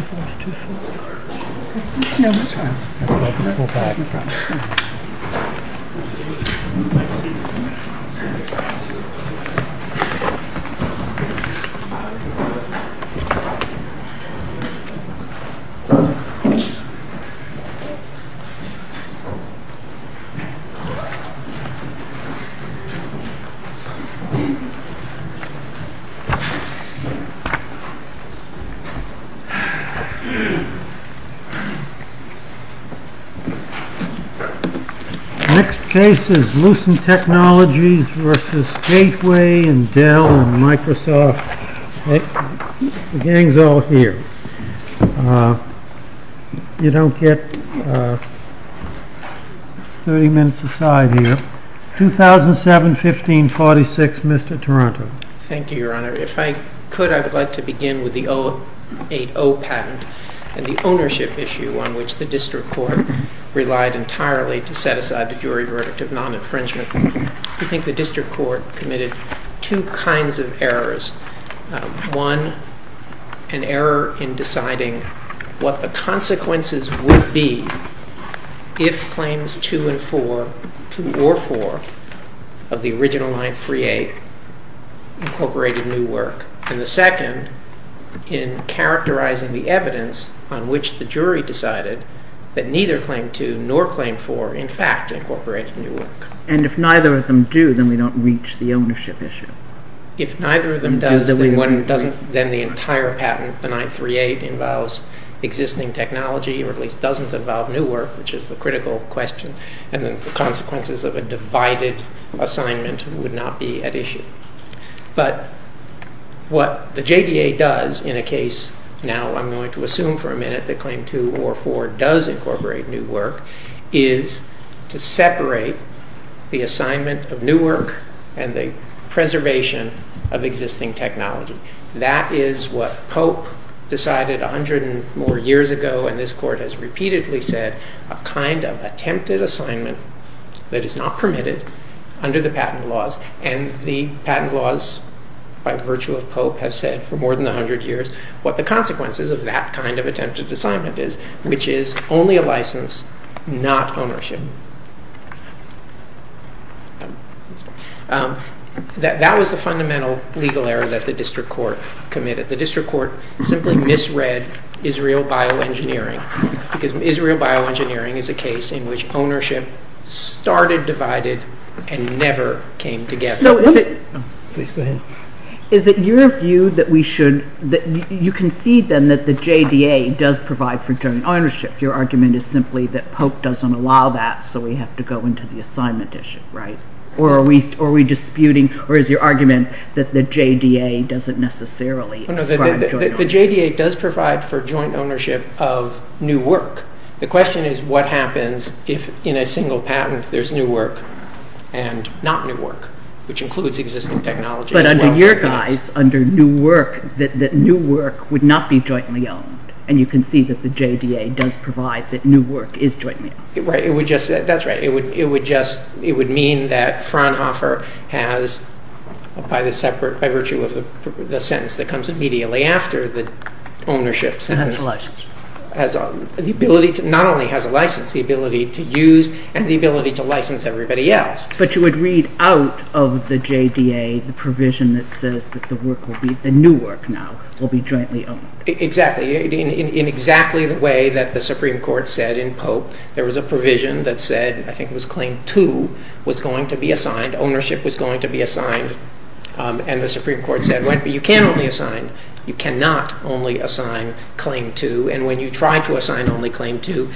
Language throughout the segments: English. Forty-two feet. Next case is Lucent Technologies versus Gateway and Dell and Microsoft. The gang's all here. You don't get 30 minutes aside here. 2007-15-46, Mr. Taranto. Thank you, Your Honor. If I could, I would like to begin with the 08-0 patent and the ownership issue on which the district court relied entirely to set aside the jury verdict of non-infringement. I think the district court committed two kinds of errors. One, an error in deciding what the consequences would be if claims 2 and 4, 2 or 4, of the original 938 incorporated new work. And the second, in characterizing the evidence on which the jury decided that neither claim 2 nor claim 4, in fact, incorporated new work. And if neither of them do, then we don't reach the ownership issue. If neither of them does, then the entire patent, the 938, involves existing technology, or at least doesn't involve new work, which is the critical question, and then the consequences of a divided assignment would not be at issue. But what the JDA does in a case, now I'm going to assume for a minute that claim 2 or 4 does incorporate new work, is to separate the assignment of new work and the preservation of existing technology. That is what Pope decided a hundred and more years ago, and this court has repeatedly said, a kind of attempted assignment that is not permitted under the patent laws, and the patent laws, by virtue of Pope, have said for more than a hundred years what the consequences of that kind of attempted assignment is, which is only a license, not ownership. That was the fundamental legal error that the district court committed. That the district court simply misread Israel bioengineering, because Israel bioengineering is a case in which ownership started divided and never came together. Is it your view that you concede then that the JDA does provide for joint ownership? Your argument is simply that Pope doesn't allow that, so we have to go into the assignment issue, right? Or are we disputing, or is your argument that the JDA doesn't necessarily provide joint ownership? The JDA does provide for joint ownership of new work. The question is what happens if in a single patent there's new work and not new work, which includes existing technology. But under your guise, under new work, that new work would not be jointly owned, and you concede that the JDA does provide that new work is jointly owned. That's right. It would mean that Fraunhofer has, by virtue of the sentence that comes immediately after the ownership sentence, not only has a license, the ability to use and the ability to license everybody else. But you would read out of the JDA the provision that says that the new work now will be jointly owned. Exactly. In exactly the way that the Supreme Court said in Pope, there was a provision that said, I think it was Claim 2, was going to be assigned, ownership was going to be assigned, and the Supreme Court said, you can only assign, you cannot only assign Claim 2, and when you try to assign only Claim 2,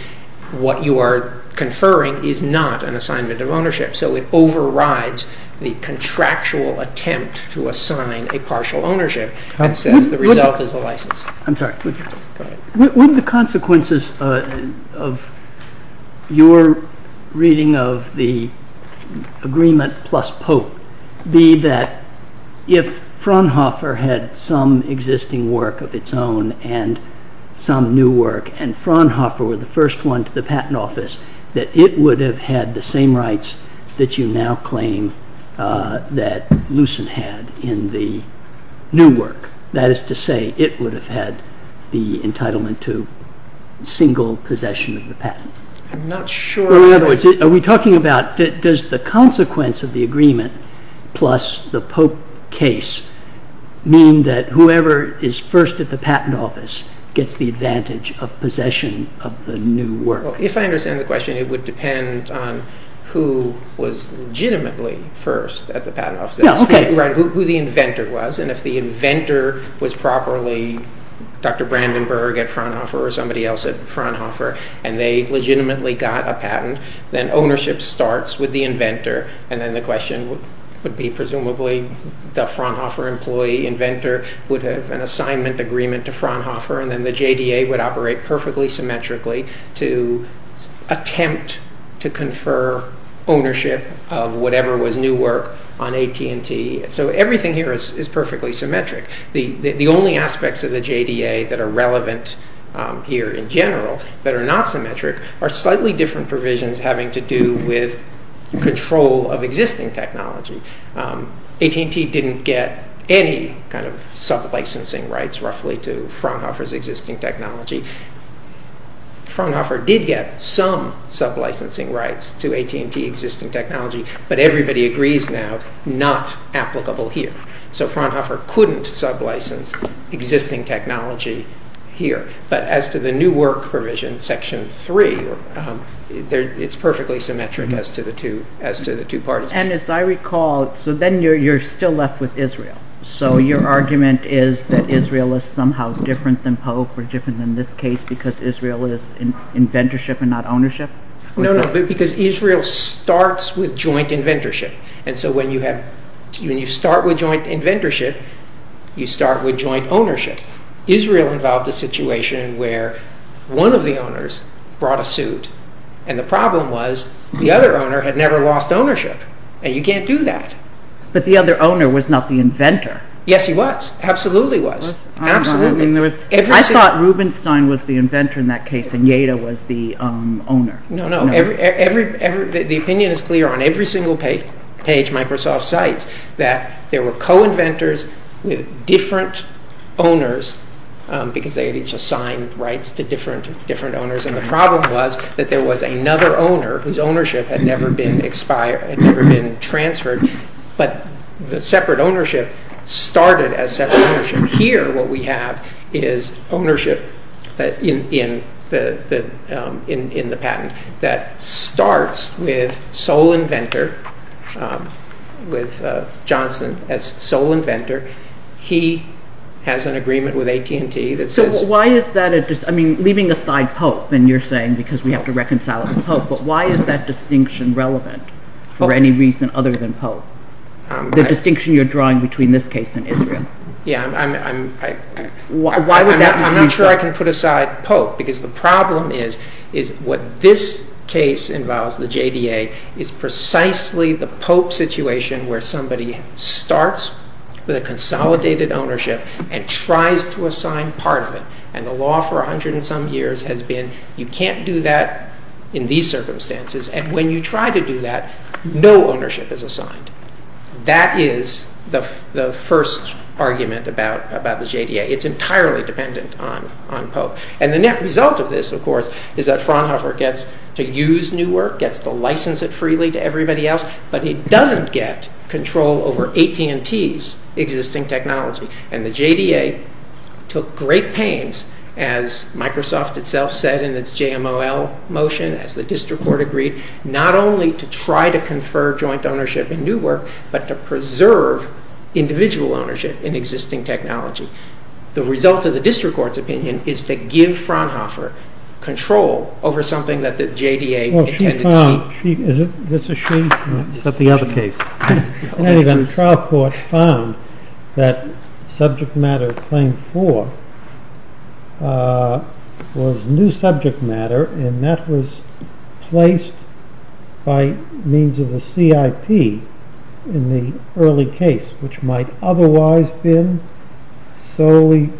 what you are conferring is not an assignment of ownership. So it overrides the contractual attempt to assign a partial ownership and says the result is a license. Would the consequences of your reading of the agreement plus Pope be that if Fraunhofer had some existing work of its own and some new work, and Fraunhofer were the first one to the patent office, that it would have had the same rights that you now claim that Lucent had in the new work? That is to say, it would have had the entitlement to single possession of the patent. I'm not sure. In other words, are we talking about, does the consequence of the agreement plus the Pope case mean that whoever is first at the patent office gets the advantage of possession of the new work? If I understand the question, it would depend on who was legitimately first at the patent office, who the inventor was, and if the inventor was properly Dr. Brandenburg at Fraunhofer or somebody else at Fraunhofer and they legitimately got a patent, then ownership starts with the inventor, and then the question would be presumably the Fraunhofer employee inventor would have an assignment agreement to Fraunhofer and then the JDA would operate perfectly symmetrically to attempt to confer ownership of whatever was new work on AT&T. So everything here is perfectly symmetric. The only aspects of the JDA that are relevant here in general that are not symmetric are slightly different provisions having to do with control of existing technology. AT&T didn't get any kind of sub-licensing rights roughly to Fraunhofer's existing technology. Fraunhofer did get some sub-licensing rights to AT&T existing technology, but everybody agrees now, not applicable here. So Fraunhofer couldn't sub-license existing technology here. But as to the new work provision, Section 3, it's perfectly symmetric as to the two parties. And as I recall, so then you're still left with Israel. So your argument is that Israel is somehow different than Pope or different than this case because Israel is inventorship and not ownership? No, no, because Israel starts with joint inventorship. And so when you start with joint inventorship, you start with joint ownership. Israel involved a situation where one of the owners brought a suit and the problem was the other owner had never lost ownership and you can't do that. But the other owner was not the inventor. Yes, he was. Absolutely was. Absolutely. I thought Rubenstein was the inventor in that case and Yeda was the owner. No, no. The opinion is clear on every single page Microsoft cites that there were co-inventors with different owners because they had each assigned rights to different owners. And the problem was that there was another owner whose ownership had never been transferred. But the separate ownership started as separate ownership. Here what we have is ownership in the patent that starts with sole inventor, with Johnson as sole inventor. He has an agreement with AT&T that says... So why is that, I mean leaving aside Pope and you're saying because we have to reconcile it with Pope, but why is that distinction relevant for any reason other than Pope? The distinction you're drawing between this case and Israel. Yeah, I'm not sure I can put aside Pope because the problem is what this case involves, the JDA, is precisely the Pope situation where somebody starts with a consolidated ownership and tries to assign part of it. And the law for a hundred and some years has been you can't do that in these circumstances. And when you try to do that, no ownership is assigned. That is the first argument about the JDA. It's entirely dependent on Pope. And the net result of this, of course, is that Fraunhofer gets to use Newark, gets to license it freely to everybody else, but he doesn't get control over AT&T's existing technology. And the JDA took great pains, as Microsoft itself said in its JML motion, as the district court agreed, not only to try to confer joint ownership in Newark, but to preserve individual ownership in existing technology. The result of the district court's opinion is to give Fraunhofer control over something that the JDA intended to keep. Well, she found, is this a she? It's the other case. In any event, the trial court found that subject matter claim four was new subject matter, and that was placed by means of the CIP in the early case, which might otherwise have been solely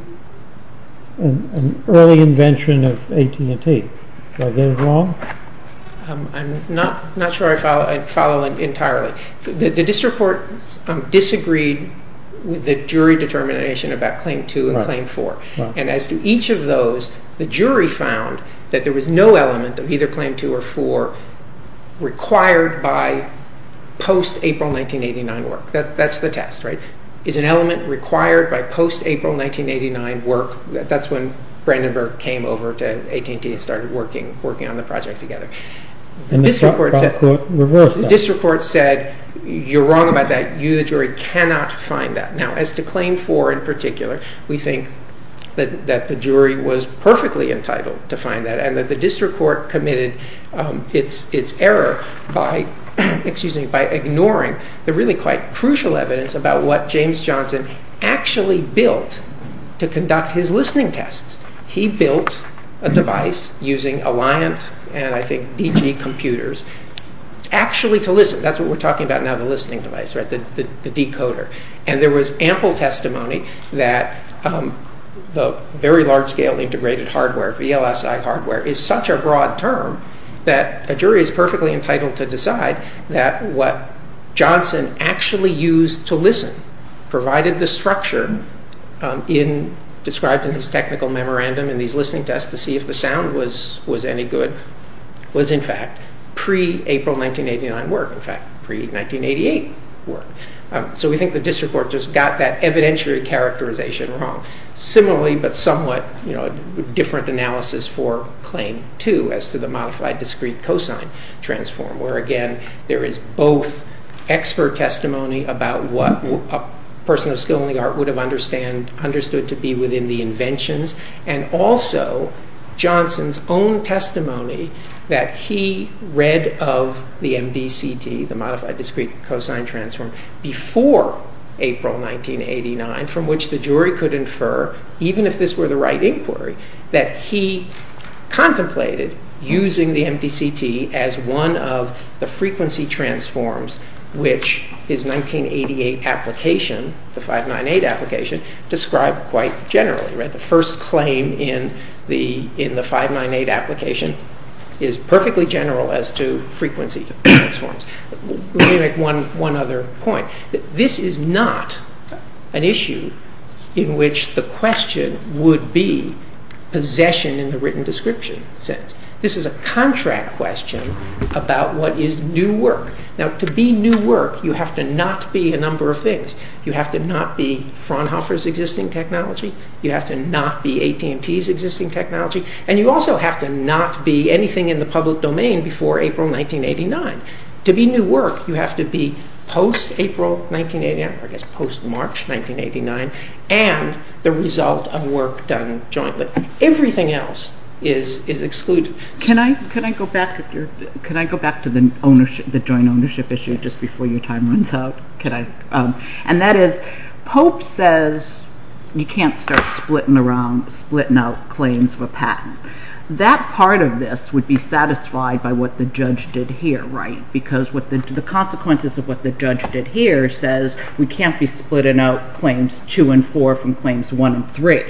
an early invention of AT&T. Did I get it wrong? I'm not sure I follow entirely. The district court disagreed with the jury determination about claim two and claim four. And as to each of those, the jury found that there was no element of either claim two or four required by post-April 1989 work. That's the test, right? Is an element required by post-April 1989 work? That's when Brandenburg came over to AT&T and started working on the project together. The district court said, you're wrong about that. You, the jury, cannot find that. Now, as to claim four in particular, we think that the jury was perfectly entitled to find that, and that the district court committed its error by ignoring the really quite crucial evidence about what James Johnson actually built to conduct his listening tests. He built a device using Alliant and, I think, DG computers actually to listen. That's what we're talking about now, the listening device, right, the decoder. And there was ample testimony that the very large-scale integrated hardware, VLSI hardware, is such a broad term that a jury is perfectly entitled to decide that what Johnson actually used to listen, provided the structure described in his technical memorandum in these listening tests to see if the sound was any good, was, in fact, pre-April 1989 work, in fact, pre-1988 work. So we think the district court just got that evidentiary characterization wrong. Similarly, but somewhat different analysis for claim two as to the modified discrete cosine transform, where, again, there is both expert testimony about what a person of skill in the art would have understood to be within the inventions, and also Johnson's own testimony that he read of the MDCT, the modified discrete cosine transform, before April 1989, from which the jury could infer, even if this were the right inquiry, that he contemplated using the MDCT as one of the frequency transforms which his 1988 application, the 598 application, described quite generally. The first claim in the 598 application is perfectly general as to frequency transforms. Let me make one other point. This is not an issue in which the question would be possession in the written description sense. This is a contract question about what is new work. Now, to be new work, you have to not be a number of things. You have to not be Fraunhofer's existing technology. You have to not be AT&T's existing technology. And you also have to not be anything in the public domain before April 1989. To be new work, you have to be post-April 1989, or I guess post-March 1989, and the result of work done jointly. Everything else is excluded. Can I go back to the joint ownership issue just before your time runs out? And that is, Pope says you can't start splitting out claims for patent. That part of this would be satisfied by what the judge did here, right? Because the consequences of what the judge did here says we can't be splitting out claims two and four from claims one and three.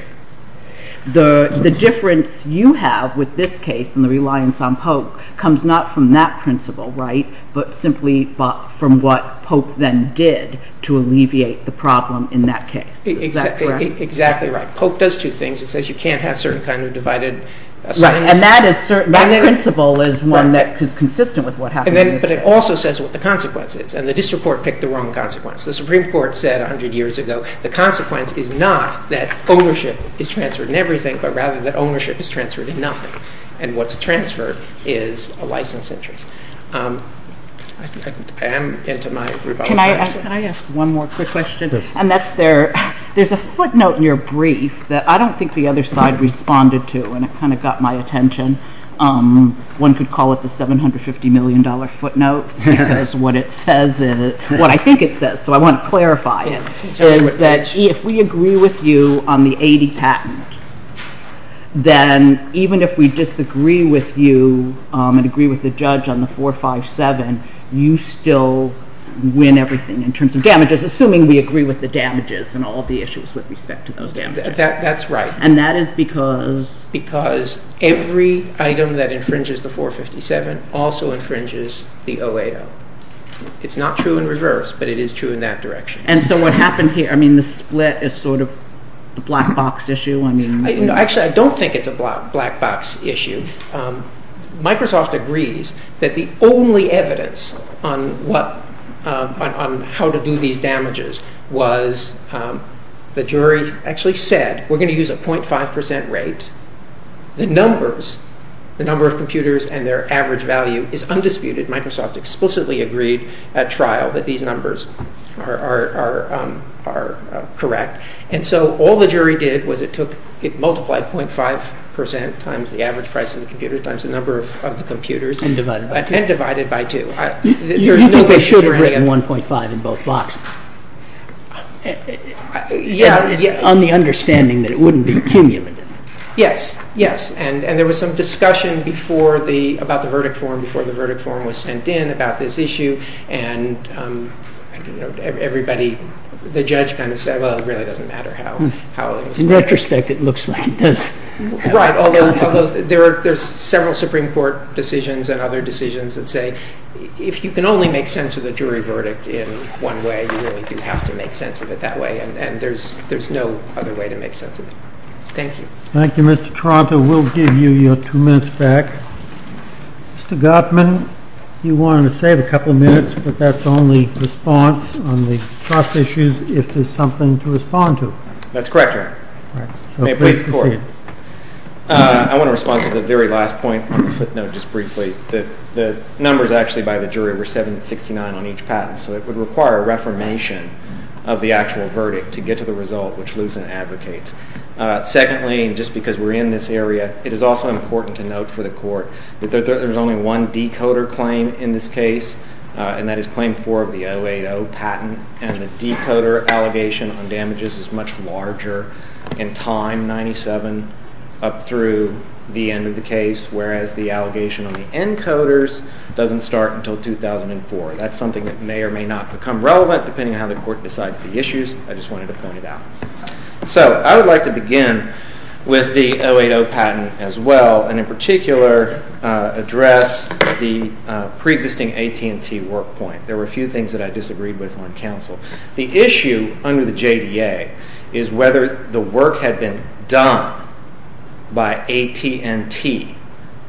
The difference you have with this case and the reliance on Pope comes not from that principle, right, but simply from what Pope then did to alleviate the problem in that case. Is that correct? Exactly right. Pope does two things. He says you can't have certain kind of divided assignments. Right, and that principle is one that is consistent with what happened in this case. But it also says what the consequence is, and the district court picked the wrong consequence. The Supreme Court said 100 years ago, the consequence is not that ownership is transferred in everything, but rather that ownership is transferred in nothing, and what's transferred is a license interest. I am into my rebuttal time. Can I ask one more quick question? And that's there's a footnote in your brief that I don't think the other side responded to, and it kind of got my attention. One could call it the $750 million footnote, because what it says is what I think it says, so I want to clarify it, is that if we agree with you on the 80 patent, then even if we disagree with you and agree with the judge on the 457, you still win everything in terms of damages, assuming we agree with the damages and all the issues with respect to those damages. That's right. And that is because? Because every item that infringes the 457 also infringes the 080. It's not true in reverse, but it is true in that direction. And so what happened here, I mean, the split is sort of the black box issue? Actually, I don't think it's a black box issue. Microsoft agrees that the only evidence on how to do these damages was the jury actually said we're going to use a 0.5% rate. The numbers, the number of computers and their average value is undisputed. Microsoft explicitly agreed at trial that these numbers are correct. And so all the jury did was it multiplied 0.5% times the average price of the computer times the number of the computers. And divided by two. And divided by two. You think they should have written 1.5 in both boxes? Yeah. On the understanding that it wouldn't be cumulative. Yes, yes, and there was some discussion about the verdict form before the verdict form was sent in about this issue. And everybody, the judge kind of said, well, it really doesn't matter how it was written. In retrospect, it looks like it does. Right, although there's several Supreme Court decisions and other decisions that say if you can only make sense of the jury verdict in one way, you really do have to make sense of it that way. And there's no other way to make sense of it. Thank you. Thank you, Mr. Toronto. We'll give you your two minutes back. Mr. Gottman, you wanted to save a couple of minutes, but that's only response on the trust issues if there's something to respond to. That's correct, Your Honor. May it please the Court. I want to respond to the very last point on the footnote just briefly. The numbers actually by the jury were 769 on each patent. So it would require a reformation of the actual verdict to get to the result, which Lucent advocates. Secondly, just because we're in this area, it is also important to note for the Court that there's only one decoder claim in this case, and that is Claim 4 of the 080 patent, and the decoder allegation on damages is much larger in time, 97 up through the end of the case, whereas the allegation on the encoders doesn't start until 2004. That's something that may or may not become relevant depending on how the Court decides the issues. I just wanted to point it out. So I would like to begin with the 080 patent as well, and in particular address the preexisting AT&T work point. There were a few things that I disagreed with on counsel. The issue under the JDA is whether the work had been done by AT&T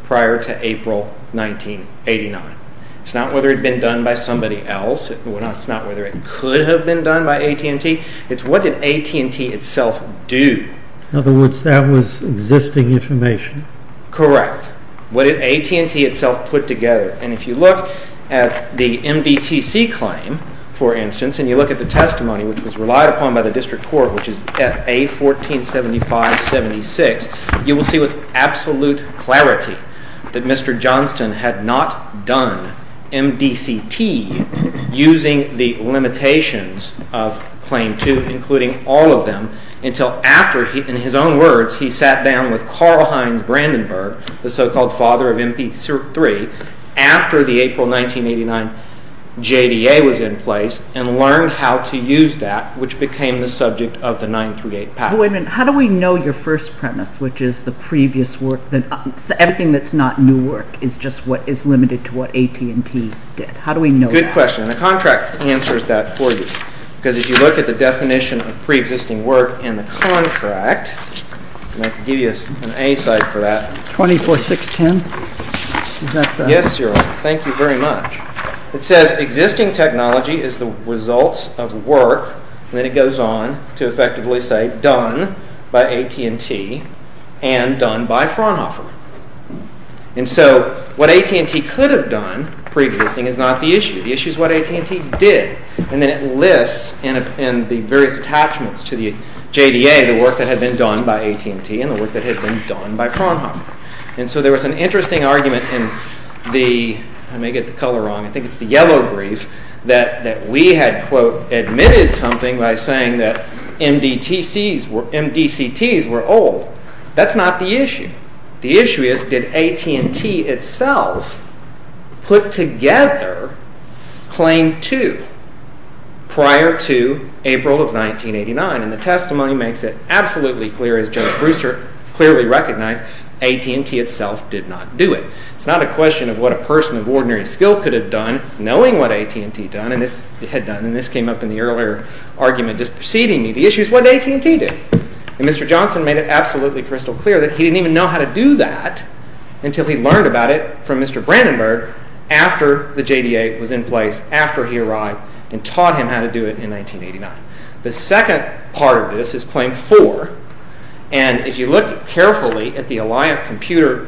prior to April 1989. It's not whether it had been done by somebody else. It's not whether it could have been done by AT&T. It's what did AT&T itself do? In other words, that was existing information. Correct. What did AT&T itself put together? And if you look at the MBTC claim, for instance, and you look at the testimony which was relied upon by the District Court, which is at A1475-76, you will see with absolute clarity that Mr. Johnston had not done MDCT using the limitations of Claim 2, including all of them, until after, in his own words, he sat down with Carl Heinz Brandenburg, the so-called father of MP3, after the April 1989 JDA was in place and learned how to use that, which became the subject of the 938 patent. Wait a minute. How do we know your first premise, which is the previous work? Everything that's not new work is just what is limited to what AT&T did. How do we know that? Good question. The contract answers that for you. Because if you look at the definition of pre-existing work in the contract, and I can give you an A-site for that. 24610? Yes, sir. Thank you very much. It says existing technology is the results of work, and then it goes on to effectively say done by AT&T and done by Fraunhofer. And so what AT&T could have done, pre-existing, is not the issue. The issue is what AT&T did. And then it lists in the various attachments to the JDA the work that had been done by AT&T and the work that had been done by Fraunhofer. And so there was an interesting argument in the, I may get the color wrong, I think it's the yellow brief, that we had, quote, admitted something by saying that MDCTs were old. That's not the issue. The issue is did AT&T itself put together Claim 2 prior to April of 1989? And the testimony makes it absolutely clear, as Judge Brewster clearly recognized, AT&T itself did not do it. It's not a question of what a person of ordinary skill could have done knowing what AT&T had done. And this came up in the earlier argument just preceding me. The issue is what AT&T did. And Mr. Johnson made it absolutely crystal clear that he didn't even know how to do that until he learned about it from Mr. Brandenburg after the JDA was in place, after he arrived, and taught him how to do it in 1989. The second part of this is Claim 4. And if you look carefully at the Alliant Computer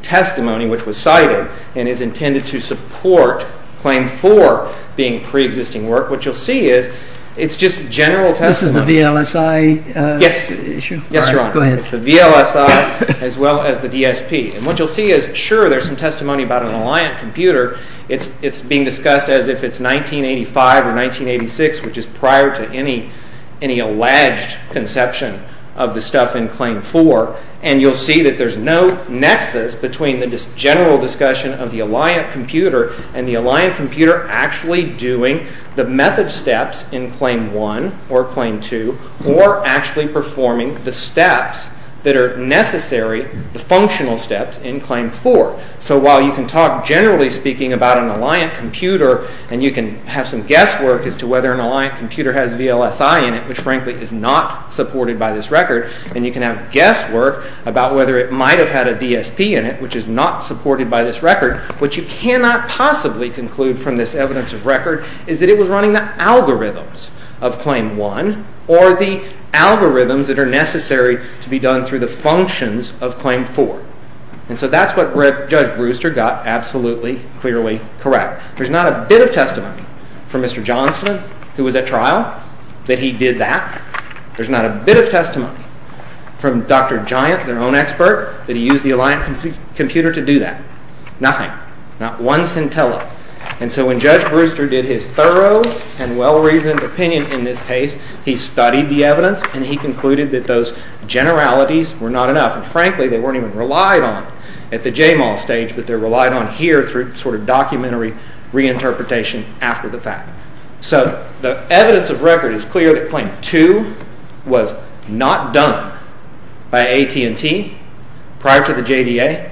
testimony, which was cited and is intended to support Claim 4 being pre-existing work, what you'll see is it's just general testimony. This is the VLSI issue? Yes, Your Honor. Go ahead. It's the VLSI as well as the DSP. And what you'll see is, sure, there's some testimony about an Alliant Computer. It's being discussed as if it's 1985 or 1986, which is prior to any alleged conception of the stuff in Claim 4. And you'll see that there's no nexus between the general discussion of the Alliant Computer and the Alliant Computer actually doing the method steps in Claim 1 or Claim 2 or actually performing the steps that are necessary, the functional steps in Claim 4. So while you can talk generally speaking about an Alliant Computer and you can have some guesswork as to whether an Alliant Computer has VLSI in it, which frankly is not supported by this record, and you can have guesswork about whether it might have had a DSP in it, which is not supported by this record, what you cannot possibly conclude from this evidence of record is that it was running the algorithms of Claim 1 or the algorithms that are necessary to be done through the functions of Claim 4. And so that's what Judge Brewster got absolutely clearly correct. There's not a bit of testimony from Mr. Johnson, who was at trial, that he did that. There's not a bit of testimony from Dr. Giant, their own expert, that he used the Alliant Computer to do that. Nothing. Not one centella. And so when Judge Brewster did his thorough and well-reasoned opinion in this case, he studied the evidence and he concluded that those generalities were not enough. And frankly, they weren't even relied on at the JMAL stage, but they're relied on here through sort of documentary reinterpretation after the fact. So the evidence of record is clear that Claim 2 was not done by AT&T prior to the JDA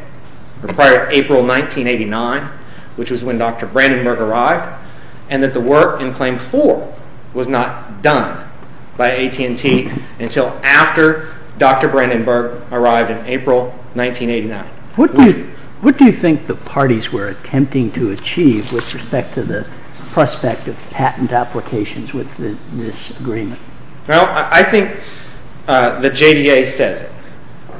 or prior to April 1989, which was when Dr. Brandenburg arrived, and that the work in Claim 4 was not done by AT&T until after Dr. Brandenburg arrived in April 1989. What do you think the parties were attempting to achieve with respect to the prospect of patent applications with this agreement? Well, I think the JDA says it.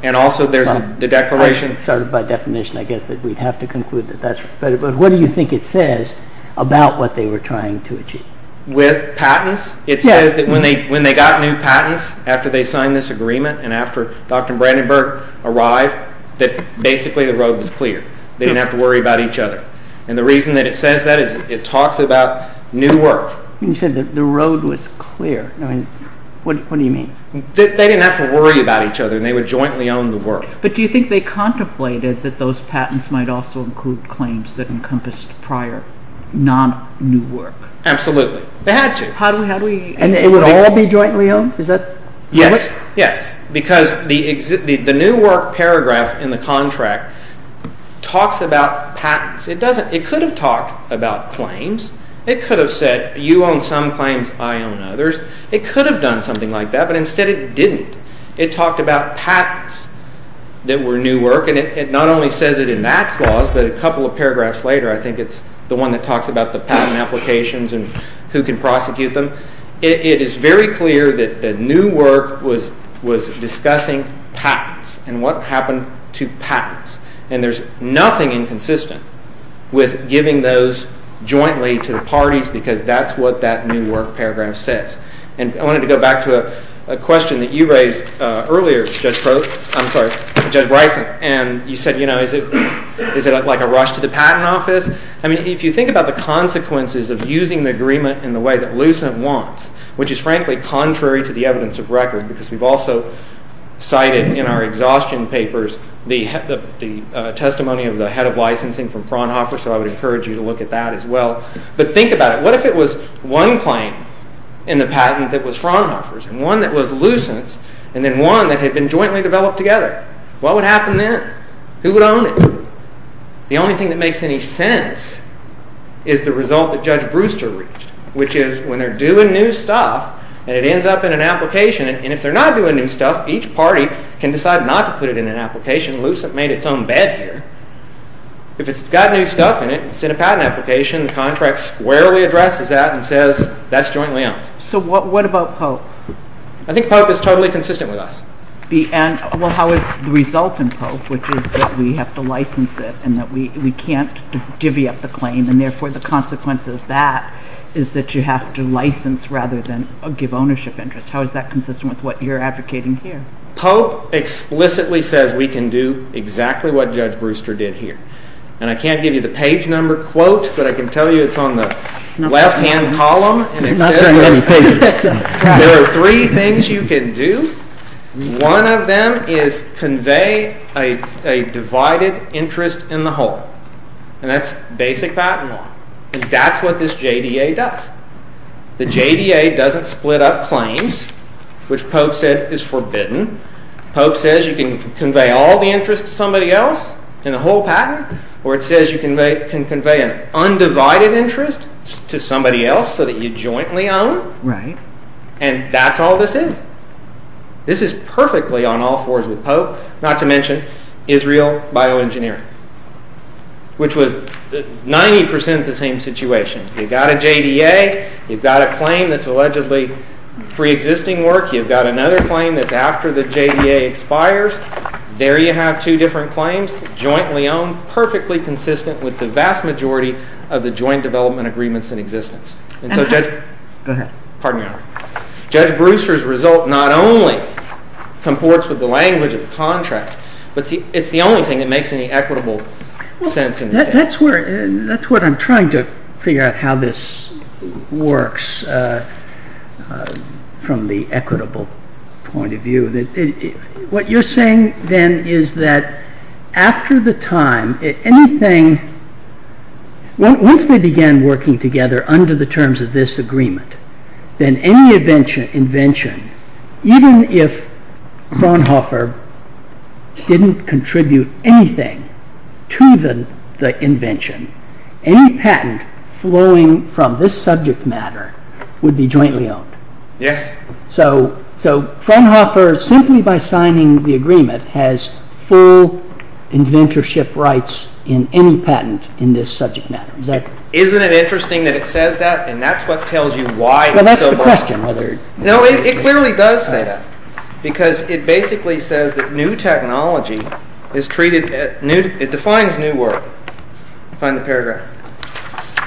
And also there's the declaration. By definition, I guess that we'd have to conclude that that's right. But what do you think it says about what they were trying to achieve? With patents? It says that when they got new patents after they signed this agreement and after Dr. Brandenburg arrived, that basically the road was clear. They didn't have to worry about each other. And the reason that it says that is it talks about new work. You said that the road was clear. I mean, what do you mean? They didn't have to worry about each other, and they would jointly own the work. But do you think they contemplated that those patents might also include claims that encompassed prior non-new work? Absolutely. They had to. And it would all be jointly owned? Yes, because the new work paragraph in the contract talks about patents. It could have talked about claims. It could have said you own some claims, I own others. It could have done something like that, but instead it didn't. It talked about patents that were new work. And it not only says it in that clause, but a couple of paragraphs later, I think it's the one that talks about the patent applications and who can prosecute them. It is very clear that the new work was discussing patents and what happened to patents. And there's nothing inconsistent with giving those jointly to the parties because that's what that new work paragraph says. And I wanted to go back to a question that you raised earlier, Judge Bryson. And you said, you know, is it like a rush to the patent office? I mean, if you think about the consequences of using the agreement in the way that Lucent wants, which is frankly contrary to the evidence of record because we've also cited in our exhaustion papers the testimony of the head of licensing from Fraunhofer, so I would encourage you to look at that as well. But think about it. What if it was one claim in the patent that was Fraunhofer's and one that was Lucent's and then one that had been jointly developed together? What would happen then? Who would own it? The only thing that makes any sense is the result that Judge Brewster reached, which is when they're doing new stuff and it ends up in an application, and if they're not doing new stuff, each party can decide not to put it in an application. Lucent made its own bed here. If it's got new stuff in it, it's in a patent application, the contract squarely addresses that and says that's jointly owned. So what about Pope? I think Pope is totally consistent with us. Well, how is the result in Pope, which is that we have to license it and that we can't divvy up the claim and therefore the consequence of that is that you have to license rather than give ownership interest? How is that consistent with what you're advocating here? Pope explicitly says we can do exactly what Judge Brewster did here, and I can't give you the page number quote, but I can tell you it's on the left-hand column. There are three things you can do. One of them is convey a divided interest in the whole, and that's basic patent law, and that's what this JDA does. The JDA doesn't split up claims, which Pope said is forbidden. Pope says you can convey all the interest to somebody else in the whole patent, or it says you can convey an undivided interest to somebody else so that you jointly own, and that's all this is. This is perfectly on all fours with Pope, not to mention Israel Bioengineering, which was 90% the same situation. You've got a JDA. You've got a claim that's allegedly preexisting work. You've got another claim that's after the JDA expires. There you have two different claims jointly owned, perfectly consistent with the vast majority of the joint development agreements in existence. And so Judge Brewster's result not only comports with the language of the contract, but it's the only thing that makes any equitable sense in this case. That's what I'm trying to figure out how this works from the equitable point of view. What you're saying then is that after the time, anything, once they began working together under the terms of this agreement, then any invention, even if Fraunhofer didn't contribute anything to the invention, any patent flowing from this subject matter would be jointly owned. Yes. So Fraunhofer, simply by signing the agreement, has full inventorship rights in any patent in this subject matter. Isn't it interesting that it says that? And that's what tells you why it's so important. Well, that's the question. No, it clearly does say that. Because it basically says that new technology is treated as new. It defines new work. Find the paragraph.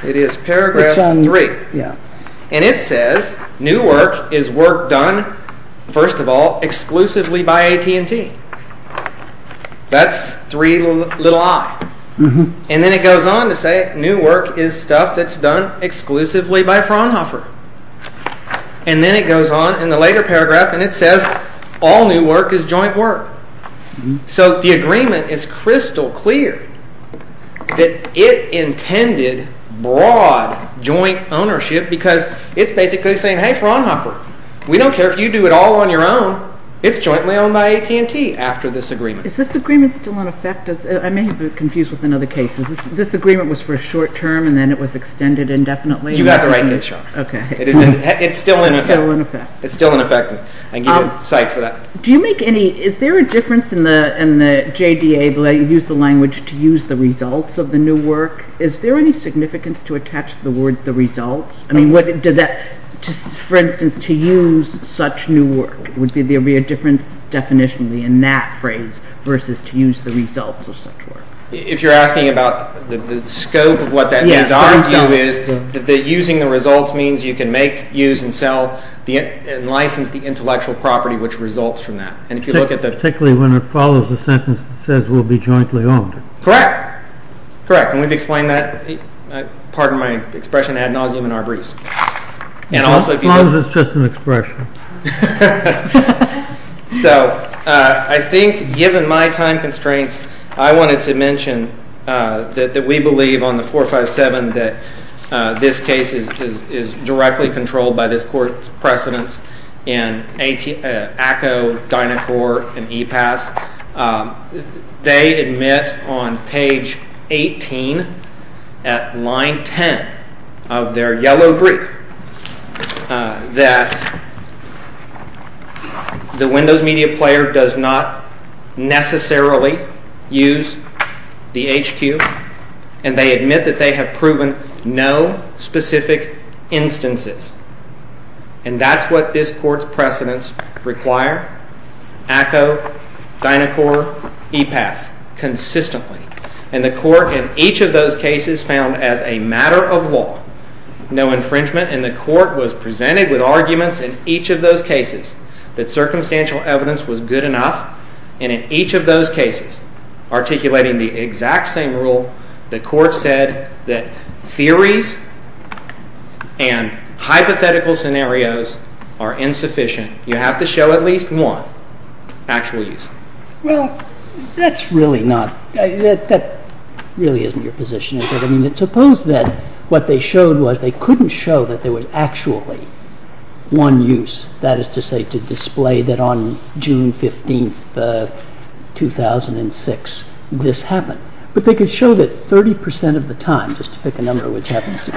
It is paragraph three. And it says new work is work done, first of all, exclusively by AT&T. That's three little i. And then it goes on to say new work is stuff that's done exclusively by Fraunhofer. And then it goes on in the later paragraph and it says all new work is joint work. So the agreement is crystal clear that it intended broad joint ownership because it's basically saying, hey, Fraunhofer, we don't care if you do it all on your own. It's jointly owned by AT&T after this agreement. Is this agreement still in effect? I may have been confused with another case. This agreement was for a short term and then it was extended indefinitely. You got the right dish on. Okay. It's still in effect. It's still in effect. It's still in effect. I can give you a cite for that. Do you make any, is there a difference in the JDA, the way you use the language to use the results of the new work? Is there any significance to attach the word the results? I mean, for instance, to use such new work. Would there be a difference definitionally in that phrase versus to use the results of such work? If you're asking about the scope of what that means, our view is that using the results means you can make, use, and sell, and license the intellectual property which results from that. Particularly when it follows a sentence that says we'll be jointly owned. Correct. Correct. And we've explained that part of my expression ad nauseum in our briefs. As long as it's just an expression. So I think given my time constraints, I wanted to mention that we believe on the 457 that this case is directly controlled by this court's precedence in ACCO, Dynacor, and EPAS. They admit on page 18 at line 10 of their yellow brief that the Windows Media Player does not necessarily use the HQ, and they admit that they have proven no specific instances. And that's what this court's precedence require. ACCO, Dynacor, EPAS. Consistently. And the court in each of those cases found as a matter of law no infringement, and the court was presented with arguments in each of those cases that circumstantial evidence was good enough. And in each of those cases, articulating the exact same rule, the court said that theories and hypothetical scenarios are insufficient. You have to show at least one actual use. Well, that's really not, that really isn't your position, is it? I mean, suppose that what they showed was they couldn't show that there was actually one use, that is to say, to display that on June 15th, 2006, this happened. But they could show that 30% of the time, just to pick a number which happens 30%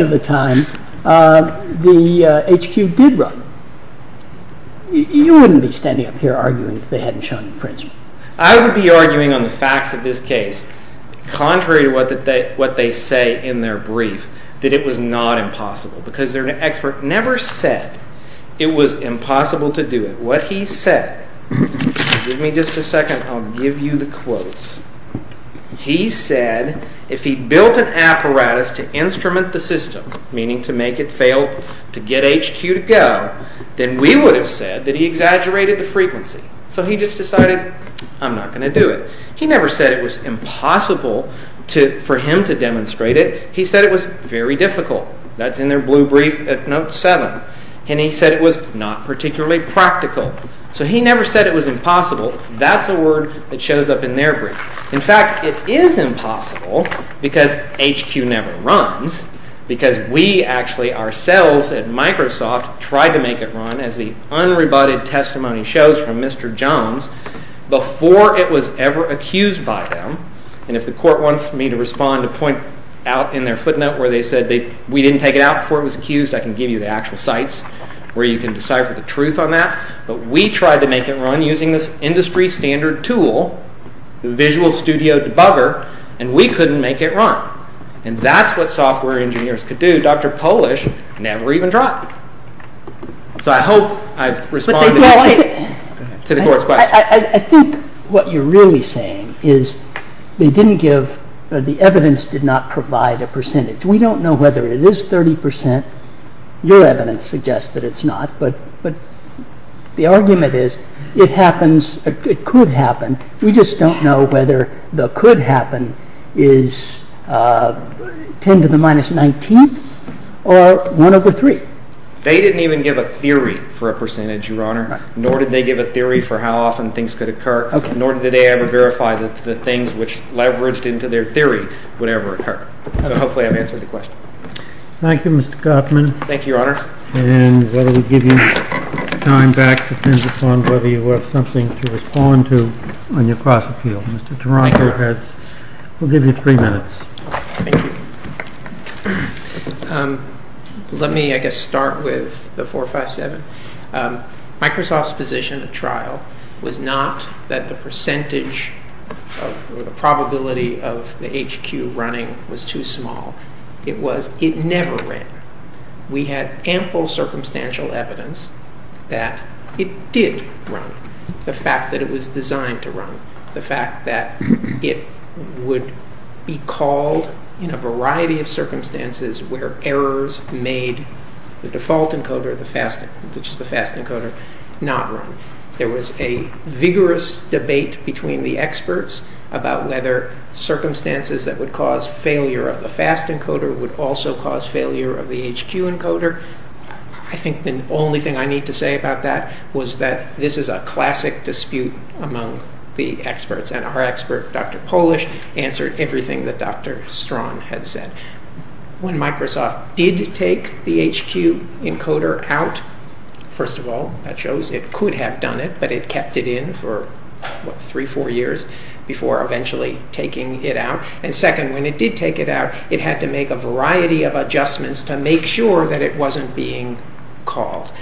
of the time, the HQ did run. You wouldn't be standing up here arguing if they hadn't shown infringement. I would be arguing on the facts of this case, contrary to what they say in their brief, that it was not impossible. Because an expert never said it was impossible to do it. What he said, give me just a second, I'll give you the quotes. He said, if he built an apparatus to instrument the system, meaning to make it fail, to get HQ to go, then we would have said that he exaggerated the frequency. So he just decided, I'm not going to do it. He never said it was impossible for him to demonstrate it. He said it was very difficult. That's in their blue brief at Note 7. And he said it was not particularly practical. So he never said it was impossible. That's a word that shows up in their brief. In fact, it is impossible, because HQ never runs, because we actually, ourselves at Microsoft, tried to make it run, as the unrebutted testimony shows from Mr. Jones, before it was ever accused by them. And if the court wants me to respond, to point out in their footnote where they said we didn't take it out before it was accused, I can give you the actual sites, where you can decipher the truth on that. But we tried to make it run using this industry standard tool, the Visual Studio Debugger, and we couldn't make it run. And that's what software engineers could do. Dr. Polish never even tried. So I hope I've responded to the court's question. I think what you're really saying is, they didn't give, the evidence did not provide a percentage. We don't know whether it is 30%. Your evidence suggests that it's not. But the argument is, it happens, it could happen. We just don't know whether the could happen is 10 to the minus 19th, or 1 over 3. They didn't even give a theory for a percentage, Your Honor. Nor did they give a theory for how often things could occur. Nor did they ever verify that the things which leveraged into their theory would ever occur. So hopefully I've answered the question. Thank you, Mr. Gottman. Thank you, Your Honor. And whether we give you time back depends upon whether you have something to respond to on your class appeal. Mr. Toronto has, we'll give you three minutes. Thank you. Let me, I guess, start with the 457. Microsoft's position at trial was not that the percentage, the probability of the HQ running was too small. It was, it never ran. We had ample circumstantial evidence that it did run. The fact that it was designed to run. The fact that it would be called in a variety of circumstances where errors made the default encoder, which is the fast encoder, not run. There was a vigorous debate between the experts about whether circumstances that would cause failure of the fast encoder would also cause failure of the HQ encoder. I think the only thing I need to say about that was that this is a classic dispute among the experts. And our expert, Dr. Polish, answered everything that Dr. Strawn had said. When Microsoft did take the HQ encoder out, first of all, that shows it could have done it, but it kept it in for three, four years before eventually taking it out. And second, when it did take it out, it had to make a variety of adjustments to make sure that it wasn't being called.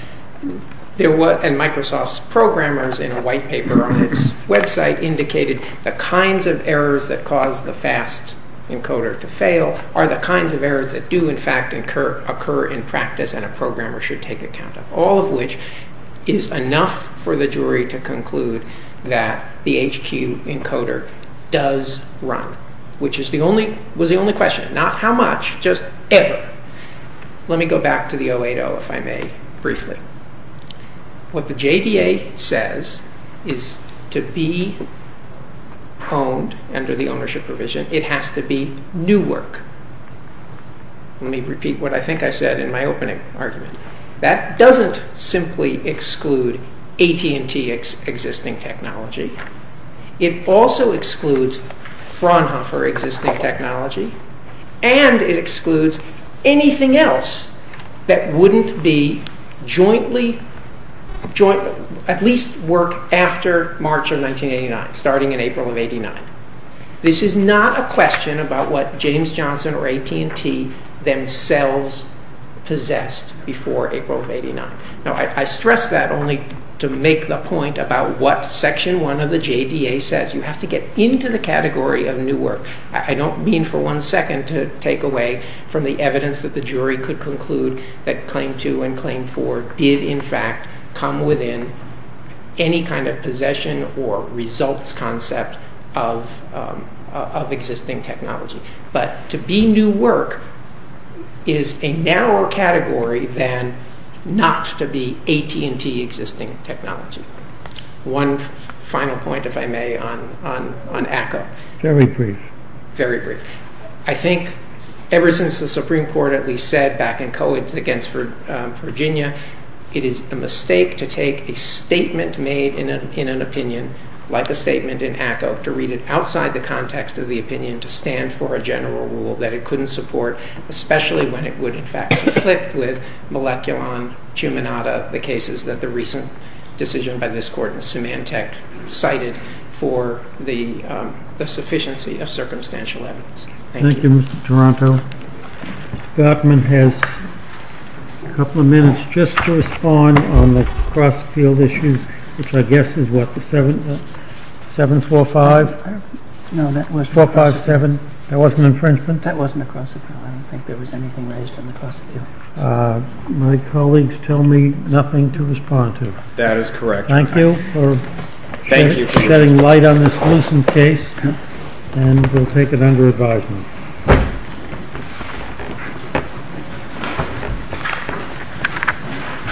There was, and Microsoft's programmers in a white paper on its website indicated the kinds of errors that caused the fast encoder to fail are the kinds of errors that do in fact occur in practice and a programmer should take account of, all of which is enough for the jury to conclude that the HQ encoder does run, which was the only question, not how much, just ever. Let me go back to the 080 if I may briefly. What the JDA says is to be owned under the ownership provision, it has to be new work. Let me repeat what I think I said in my opening argument. That doesn't simply exclude AT&T existing technology. It also excludes Fraunhofer existing technology, and it excludes anything else that wouldn't be jointly, at least work after March of 1989, starting in April of 89. This is not a question about what James Johnson or AT&T themselves possessed before April of 89. Now I stress that only to make the point about what Section 1 of the JDA says. You have to get into the category of new work. I don't mean for one second to take away from the evidence that the jury could conclude that Claim 2 and Claim 4 did in fact come within any kind of possession or results concept of existing technology. But to be new work is a narrower category than not to be AT&T existing technology. One final point, if I may, on ACCO. Very brief. Very brief. I think ever since the Supreme Court at least said back in Cohen against Virginia, it is a mistake to take a statement made in an opinion, like a statement in ACCO, to read it outside the context of the opinion to stand for a general rule that it couldn't support, especially when it would in fact conflict with Moleculon, Chuminata, the cases that the recent decision by this Court in Symantec cited for the sufficiency of circumstantial evidence. Thank you. Thank you, Mr. Toronto. Mr. Gartman has a couple of minutes just to respond on the cross-field issues, which I guess is what, 745? No, that wasn't. 457. That wasn't infringement? That wasn't a cross-field. I don't think there was anything raised on the cross-field. My colleagues tell me nothing to respond to. That is correct. Thank you for shedding light on this loosened case. And we'll take it under advisement. Thank you.